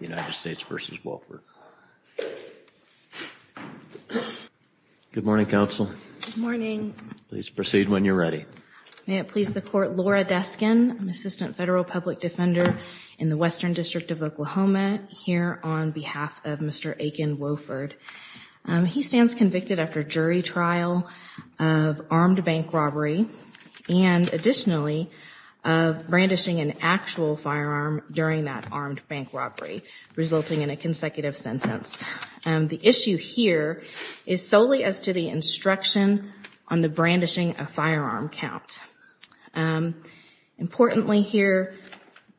Good morning, counsel. Good morning. Please proceed when you're ready. May it please the court. Laura Deskin, I'm Assistant Federal Public Defender in the Western District of Oklahoma, here on behalf of Mr. Aiken Wofford. He stands convicted after jury trial of armed bank robbery and, additionally, of brandishing an actual firearm during that armed bank robbery. Resulting in a consecutive sentence. The issue here is solely as to the instruction on the brandishing a firearm count. Importantly here,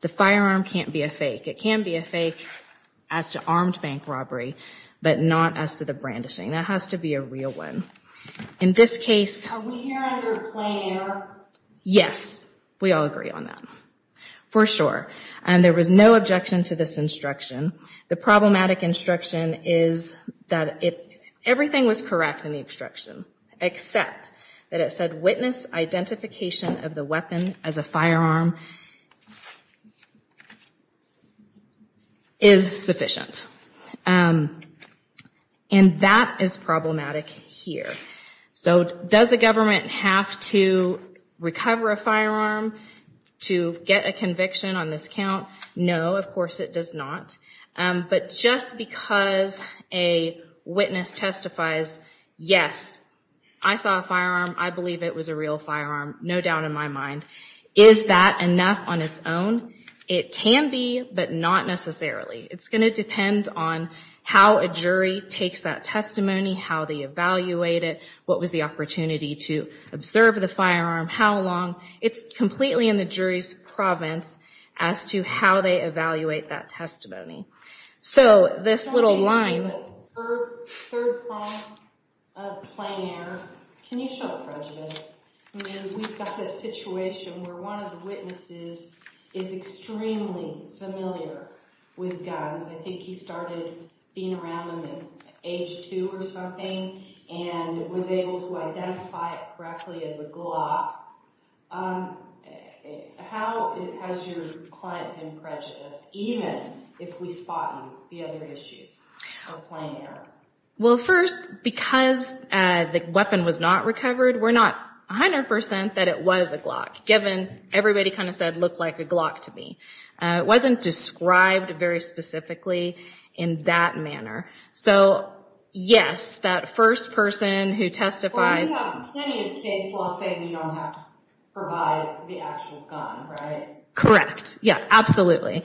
the firearm can't be a fake. It can be a fake as to armed bank robbery, but not as to the brandishing. That has to be a real one. In this case... Yes, we all agree on that. For sure. And there was no objection to this instruction. The problematic instruction is that everything was correct in the instruction, except that it said witness identification of the weapon as a firearm is sufficient. And that is problematic here. So does a government have to recover a firearm to get a conviction on this count? No, of course it does not. But just because a witness testifies, yes, I saw a firearm, I believe it was a real firearm, no doubt in my mind. Is that enough on its own? It can be, but not necessarily. It's going to depend on how a jury takes that testimony, how they evaluate it, what was the opportunity to observe the firearm, how long. It's completely in the jury's province as to how they evaluate that testimony. So this little line... How has your client been prejudiced, even if we spot the other issues of plain error? Well, first, because the weapon was not recovered, we're not 100% that it was a Glock, given everybody kind of said it looked like a Glock to me. It wasn't described very specifically in that manner. So yes, that first person who testified... Well, we have plenty of case laws saying you don't have to provide the actual gun, right? Correct. Yeah, absolutely.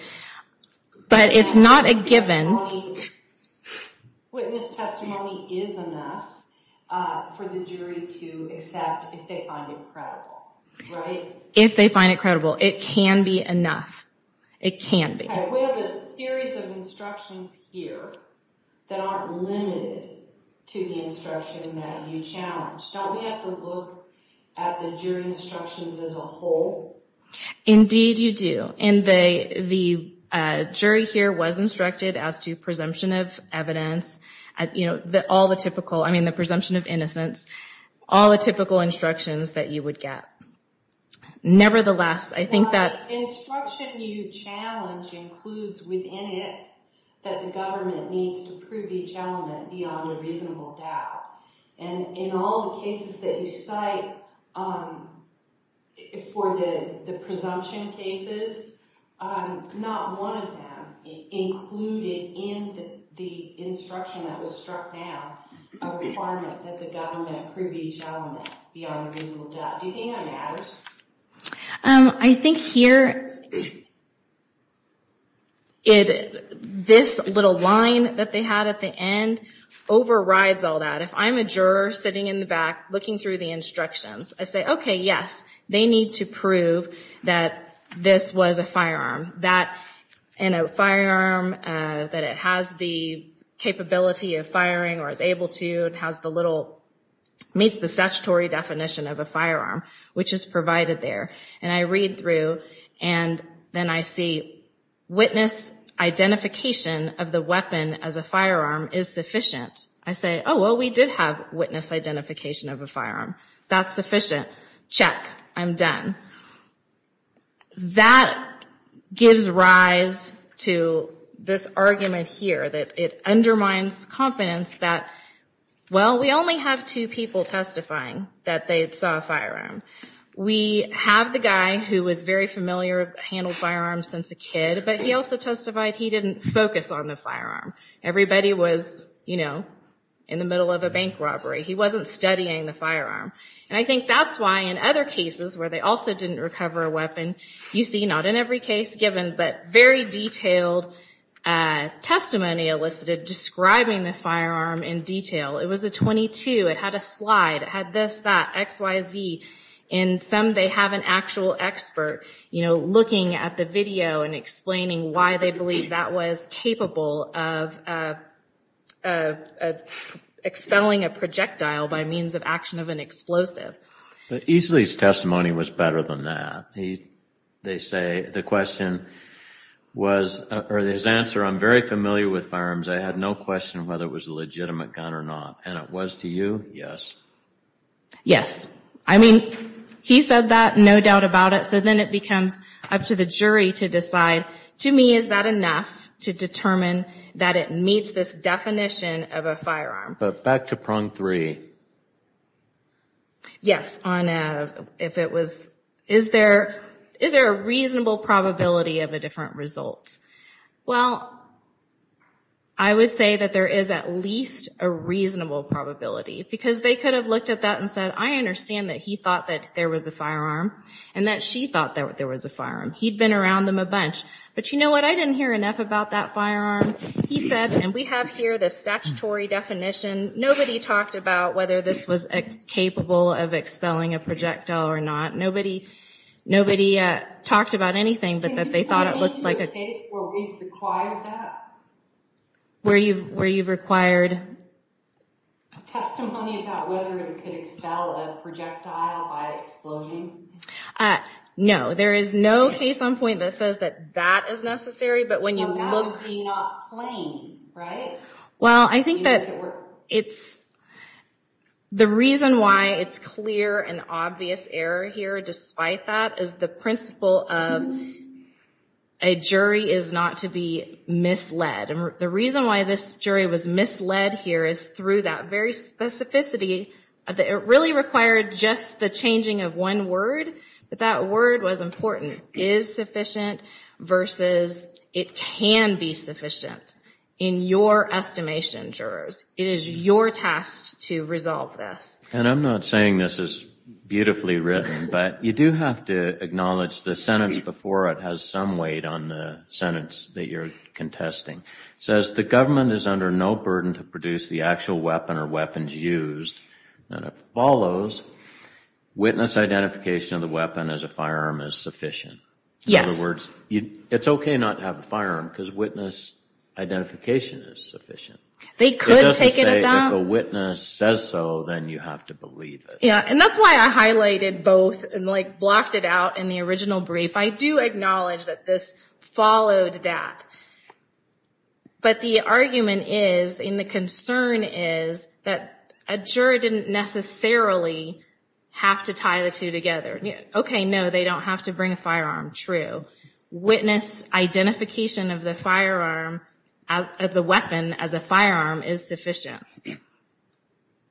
But it's not a given. Witness testimony is enough for the jury to accept if they find it credible, right? If they find it credible. It can be enough. It can be. We have a series of instructions here that aren't limited to the instruction that you challenged. Don't we have to look at the jury instructions as a whole? Indeed, you do. And the jury here was instructed as to presumption of evidence, all the typical... I mean, the presumption of innocence, all the typical instructions that you would get. Nevertheless, I think that... The instruction you challenge includes within it that the government needs to prove each element beyond a reasonable doubt. And in all the cases that you cite for the presumption cases, not one of them included in the instruction that was struck down a requirement that the government prove each element beyond a reasonable doubt. Do you think that matters? I think here, this little line that they had at the end overrides all that. If I'm a juror sitting in the back looking through the instructions, I say, OK, yes, they need to prove that this was a firearm. That in a firearm that it has the capability of firing or is able to and has the little... meets the statutory definition of a firearm, which is provided there. And I read through and then I see witness identification of the weapon as a firearm is sufficient. I say, oh, well, we did have witness identification of a firearm. That's sufficient. Check. I'm done. That gives rise to this argument here that it undermines confidence that, well, we only have two people testifying that they saw a firearm. We have the guy who was very familiar, handled firearms since a kid, but he also testified he didn't focus on the firearm. Everybody was, you know, in the middle of a bank robbery. He wasn't studying the firearm. And I think that's why in other cases where they also didn't recover a weapon, you see not in every case given, but very detailed testimony elicited describing the firearm in detail. It was a .22. It had a slide. It had this, that, X, Y, Z. And some, they have an actual expert, you know, looking at the video and explaining why they believe that was capable of expelling a projectile by means of action of an explosive. But Easley's testimony was better than that. They say the question was, or his answer, I'm very familiar with firearms. I had no question whether it was a legitimate gun or not. And it was to you, yes. Yes. I mean, he said that, no doubt about it. So then it becomes up to the jury to decide. To me, is that enough to determine that it meets this definition of a firearm? But back to prong three. Yes. If it was, is there a reasonable probability of a different result? Well, I would say that there is at least a reasonable probability because they could have looked at that and said, I understand that he thought that there was a firearm and that she thought that there was a firearm. He'd been around them a bunch. But you know what? I didn't hear enough about that firearm. He said, and we have here the statutory definition. Nobody talked about whether this was capable of expelling a projectile or not. Nobody, nobody talked about anything but that they thought it looked like a case where we required that. Where you've, where you've required. Testimony about whether it could expel a projectile by explosion. No, there is no case on point that says that that is necessary. But when you look. So that would be not plain, right? Well, I think that it's, the reason why it's clear and obvious error here despite that is the principle of a jury is not to be misled. And the reason why this jury was misled here is through that very specificity. It really required just the changing of one word, but that word was important. Is sufficient versus it can be sufficient. In your estimation, jurors, it is your task to resolve this. And I'm not saying this is beautifully written, but you do have to acknowledge the sentence before it has some weight on the sentence that you're contesting says the government is under no burden to produce the actual weapon or weapons used. And it follows witness identification of the weapon as a firearm is sufficient. In other words, it's okay not to have a firearm because witness identification is sufficient. They could take it at that. It doesn't say if a witness says so, then you have to believe it. Yeah. And that's why I highlighted both and like blocked it out in the original brief. I do acknowledge that this followed that. But the argument is in the concern is that a juror didn't necessarily have to tie the two together. Okay, no, they don't have to bring a firearm. True. Witness identification of the firearm as the weapon as a firearm is sufficient.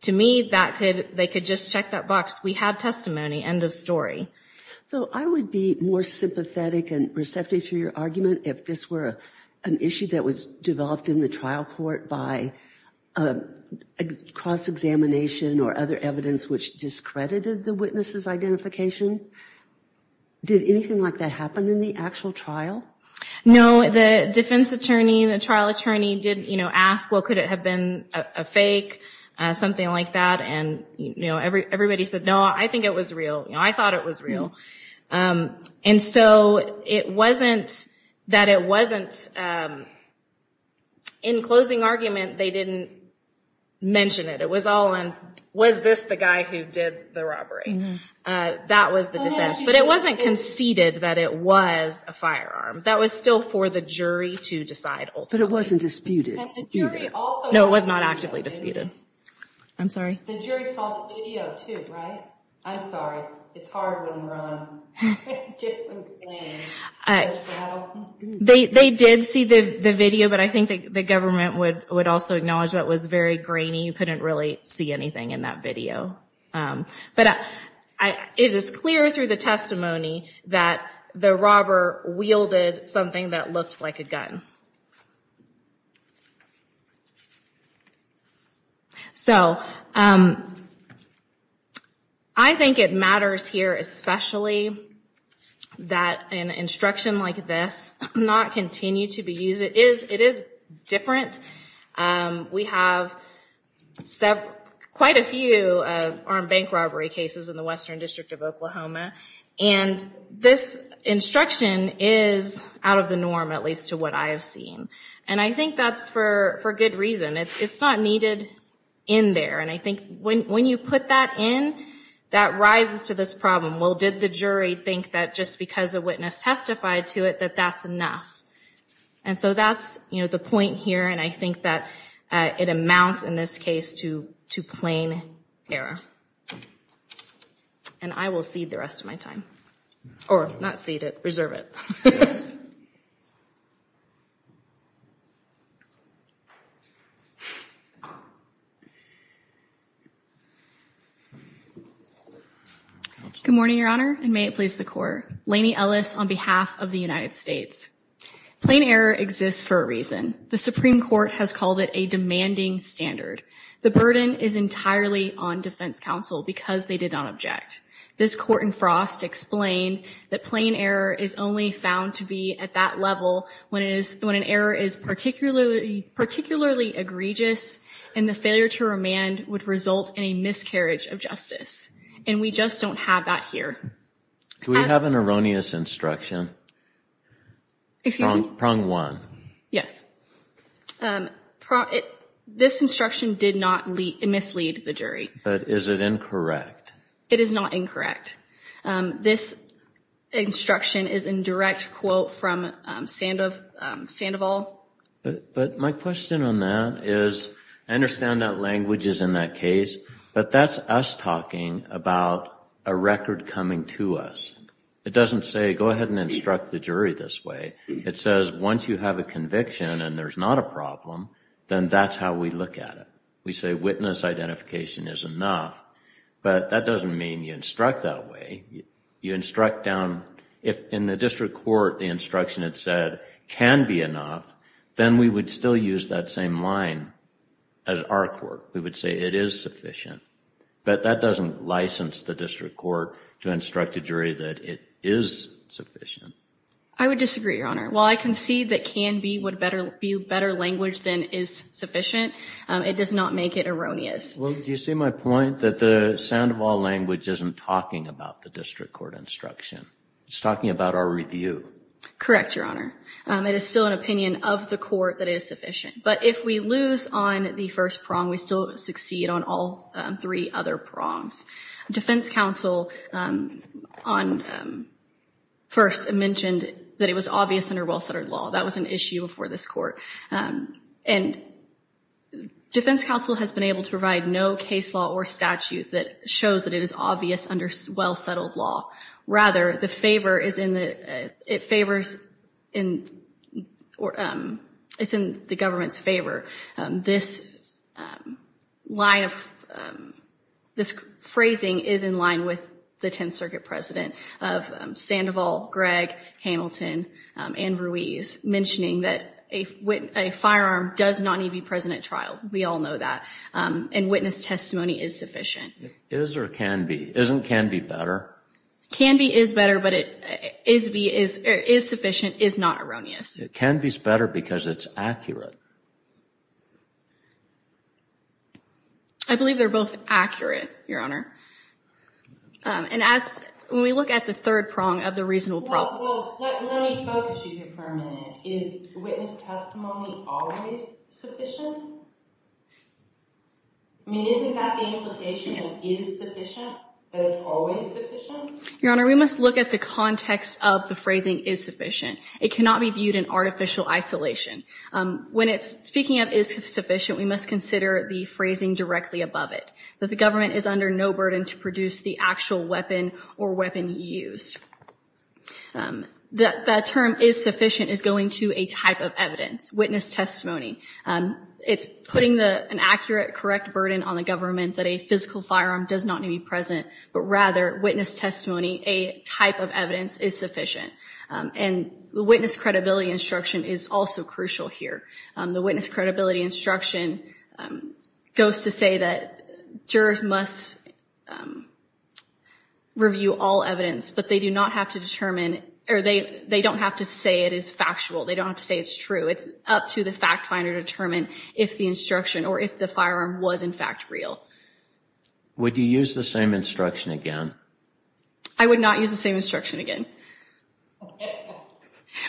To me, that could they could just check that box. We had testimony. End of story. So I would be more sympathetic and receptive to your argument if this were an issue that was developed in the trial court by a cross examination or other evidence which discredited the witnesses identification. Did anything like that happen in the actual trial? No, the defense attorney, the trial attorney did ask, well, could it have been a fake? Something like that. And, you know, every everybody said, no, I think it was real. I thought it was real. And so it wasn't that it wasn't. In closing argument, they didn't mention it. It was all and was this the guy who did the robbery? That was the defense, but it wasn't conceded that it was a firearm that was still for the jury to decide. But it wasn't disputed. No, it was not actively disputed. I'm sorry. The jury saw the video too, right? I'm sorry. It's hard when we're on different things. They did see the video, but I think the government would would also acknowledge that was very grainy. You couldn't really see anything in that video. But it is clear through the testimony that the robber wielded something that looked like a gun. So I think it matters here, especially that an instruction like this not continue to be used. It is different. We have quite a few armed bank robbery cases in the Western District of Oklahoma. And this instruction is out of the norm, at least to what I have seen. And I think that's for good reason. It's not needed in there. And I think when you put that in, that rises to this problem. Well, did the jury think that just because a witness testified to it, that that's enough? And so that's, you know, the point here. And I think that it amounts in this case to plain error. And I will cede the rest of my time or not cede it, reserve it. Good morning, Your Honor, and may it please the court. Laney Ellis on behalf of the United States. Plain error exists for a reason. The Supreme Court has called it a demanding standard. The burden is entirely on defense counsel because they did not object. This court in Frost explained that plain error is only found to be at that level when an error is particularly egregious and the failure to remand would result in a miscarriage of justice. And we just don't have that here. Do we have an erroneous instruction? Excuse me? Prong one. Yes. This instruction did not mislead the jury. But is it incorrect? It is not incorrect. This instruction is in direct quote from Sandoval. But my question on that is I understand that language is in that case, but that's us talking about a record coming to us. It doesn't say go ahead and instruct the jury this way. It says once you have a conviction and there's not a problem, then that's how we look at it. We say witness identification is enough. But that doesn't mean you instruct that way. You instruct down. If in the district court the instruction it said can be enough, then we would still use that same line as our court. We would say it is sufficient. But that doesn't license the district court to instruct a jury that it is sufficient. I would disagree, Your Honor. While I can see that can be a better language than is sufficient, it does not make it erroneous. Well, do you see my point that the Sandoval language isn't talking about the district court instruction? It's talking about our review. Correct, Your Honor. It is still an opinion of the court that it is sufficient. But if we lose on the first prong, we still succeed on all three other prongs. Defense counsel first mentioned that it was obvious under well-settled law. That was an issue before this court. And defense counsel has been able to provide no case law or statute that shows that it is obvious under well-settled law. Rather, the favor is in the government's favor. This phrasing is in line with the Tenth Circuit President of Sandoval, Gregg, Hamilton, and Ruiz, mentioning that a firearm does not need to be present at trial. We all know that. And witness testimony is sufficient. Is or can be. Isn't can be better? Can be is better, but is sufficient is not erroneous. It can be better because it's accurate. I believe they're both accurate, Your Honor. And as we look at the third prong of the reasonable problem. Well, let me focus you here for a minute. Is witness testimony always sufficient? I mean, isn't that the implication of is sufficient, that it's always sufficient? Your Honor, we must look at the context of the phrasing is sufficient. It cannot be viewed in artificial isolation. When it's speaking of is sufficient, we must consider the phrasing directly above it, that the government is under no burden to produce the actual weapon or weapon used. The term is sufficient is going to a type of evidence, witness testimony. It's putting an accurate, correct burden on the government that a physical firearm does not need to be present. But rather, witness testimony, a type of evidence, is sufficient. And the witness credibility instruction is also crucial here. The witness credibility instruction goes to say that jurors must review all evidence, but they do not have to determine or they don't have to say it is factual. They don't have to say it's true. It's up to the fact finder to determine if the instruction or if the firearm was, in fact, real. Would you use the same instruction again? I would not use the same instruction again.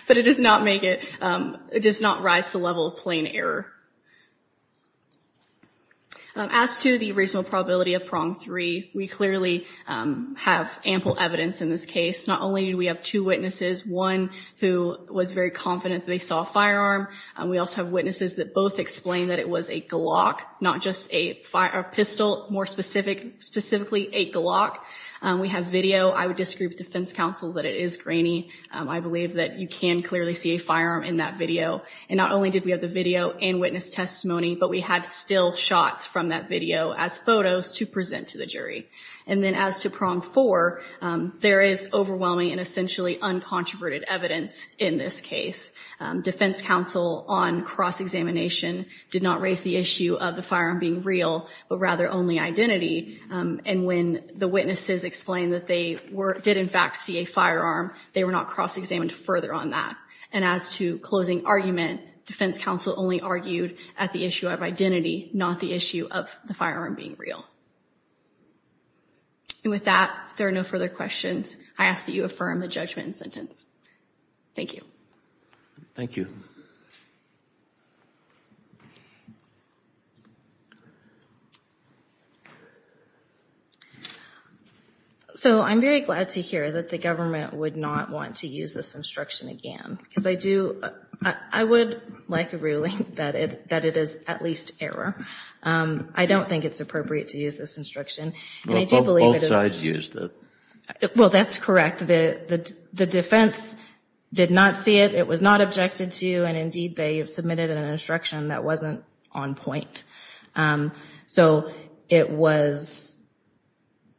But it does not make it, it does not rise to the level of plain error. As to the reasonable probability of prong three, we clearly have ample evidence in this case. Not only do we have two witnesses, one who was very confident they saw a firearm, we also have witnesses that both explained that it was a Glock, not just a pistol, more specifically a Glock. We have video. I would disagree with defense counsel that it is grainy. I believe that you can clearly see a firearm in that video. And not only did we have the video and witness testimony, but we had still shots from that video as photos to present to the jury. And then as to prong four, there is overwhelming and essentially uncontroverted evidence in this case. Defense counsel on cross-examination did not raise the issue of the firearm being real, but rather only identity. And when the witnesses explained that they did, in fact, see a firearm, they were not cross-examined further on that. And as to closing argument, defense counsel only argued at the issue of identity, not the issue of the firearm being real. And with that, there are no further questions. I ask that you affirm the judgment and sentence. Thank you. Thank you. So I'm very glad to hear that the government would not want to use this instruction again. Because I do, I would like a ruling that it is at least error. I don't think it's appropriate to use this instruction. Both sides used it. Well, that's correct. The defense did not see it. It was not objected to. And indeed, they submitted an instruction that wasn't on point. So it was,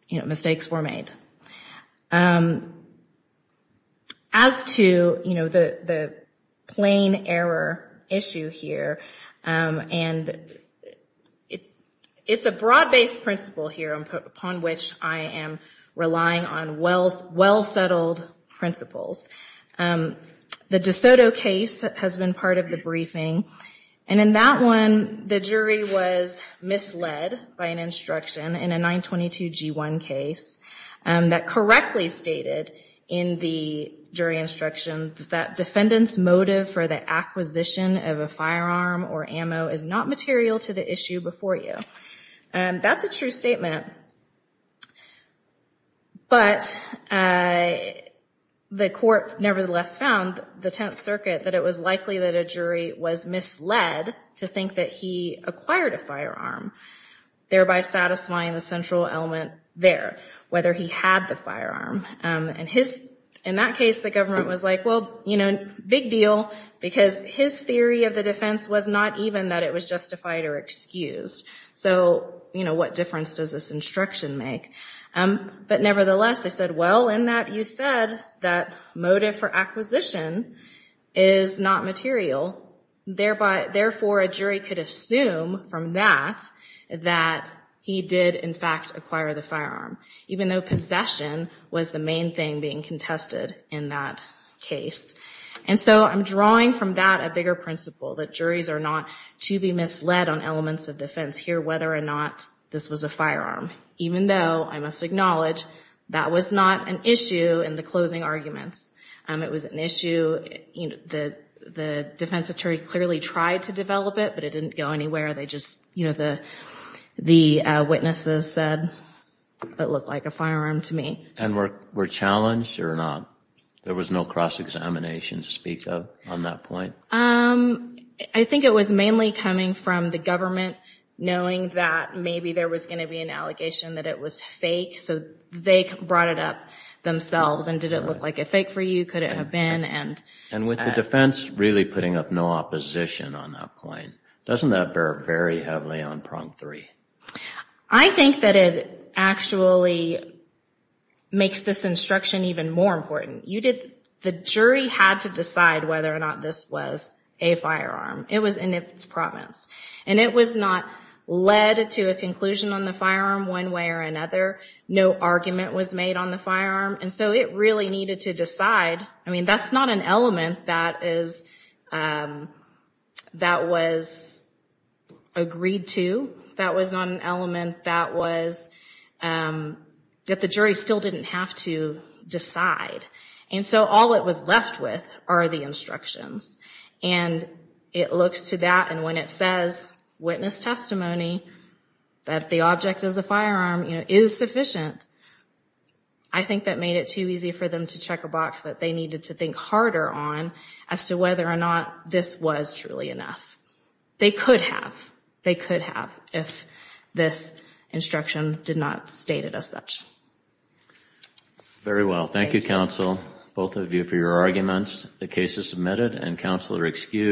you know, mistakes were made. As to, you know, the plain error issue here, and it's a broad-based principle here upon which I am relying on well-settled principles. The DeSoto case has been part of the briefing. And in that one, the jury was misled by an instruction in a 922-G1 case that correctly stated in the jury instructions that defendant's motive for the acquisition of a firearm or ammo is not material to the issue before you. That's a true statement. But the court nevertheless found the Tenth Circuit that it was likely that a jury was misled to think that he acquired a firearm, thereby satisfying the central element there, whether he had the firearm. And in that case, the government was like, well, you know, big deal, because his theory of the defense was not even that it was justified or excused. So, you know, what difference does this instruction make? But nevertheless, they said, well, in that you said that motive for acquisition is not material. Therefore, a jury could assume from that that he did, in fact, acquire the firearm, even though possession was the main thing being contested in that case. And so I'm drawing from that a bigger principle that juries are not to be misled on elements of defense here, whether or not this was a firearm, even though I must acknowledge that was not an issue in the closing arguments. It was an issue that the defense attorney clearly tried to develop it, but it didn't go anywhere. They just, you know, the witnesses said it looked like a firearm to me. And were challenged or not? There was no cross-examination to speak of on that point? I think it was mainly coming from the government knowing that maybe there was going to be an allegation that it was fake. So they brought it up themselves. And did it look like a fake for you? Could it have been? And with the defense really putting up no opposition on that point, doesn't that bear very heavily on prong three? I think that it actually makes this instruction even more important. The jury had to decide whether or not this was a firearm. It was in its promise. And it was not led to a conclusion on the firearm one way or another. No argument was made on the firearm. And so it really needed to decide. I mean, that's not an element that was agreed to. That was not an element that the jury still didn't have to decide. And so all that was left with are the instructions. And it looks to that, and when it says witness testimony, that the object is a firearm, is sufficient. I think that made it too easy for them to check a box that they needed to think harder on as to whether or not this was truly enough. They could have. They could have if this instruction did not state it as such. Very well. Thank you, counsel, both of you, for your arguments. The case is submitted, and counsel are excused.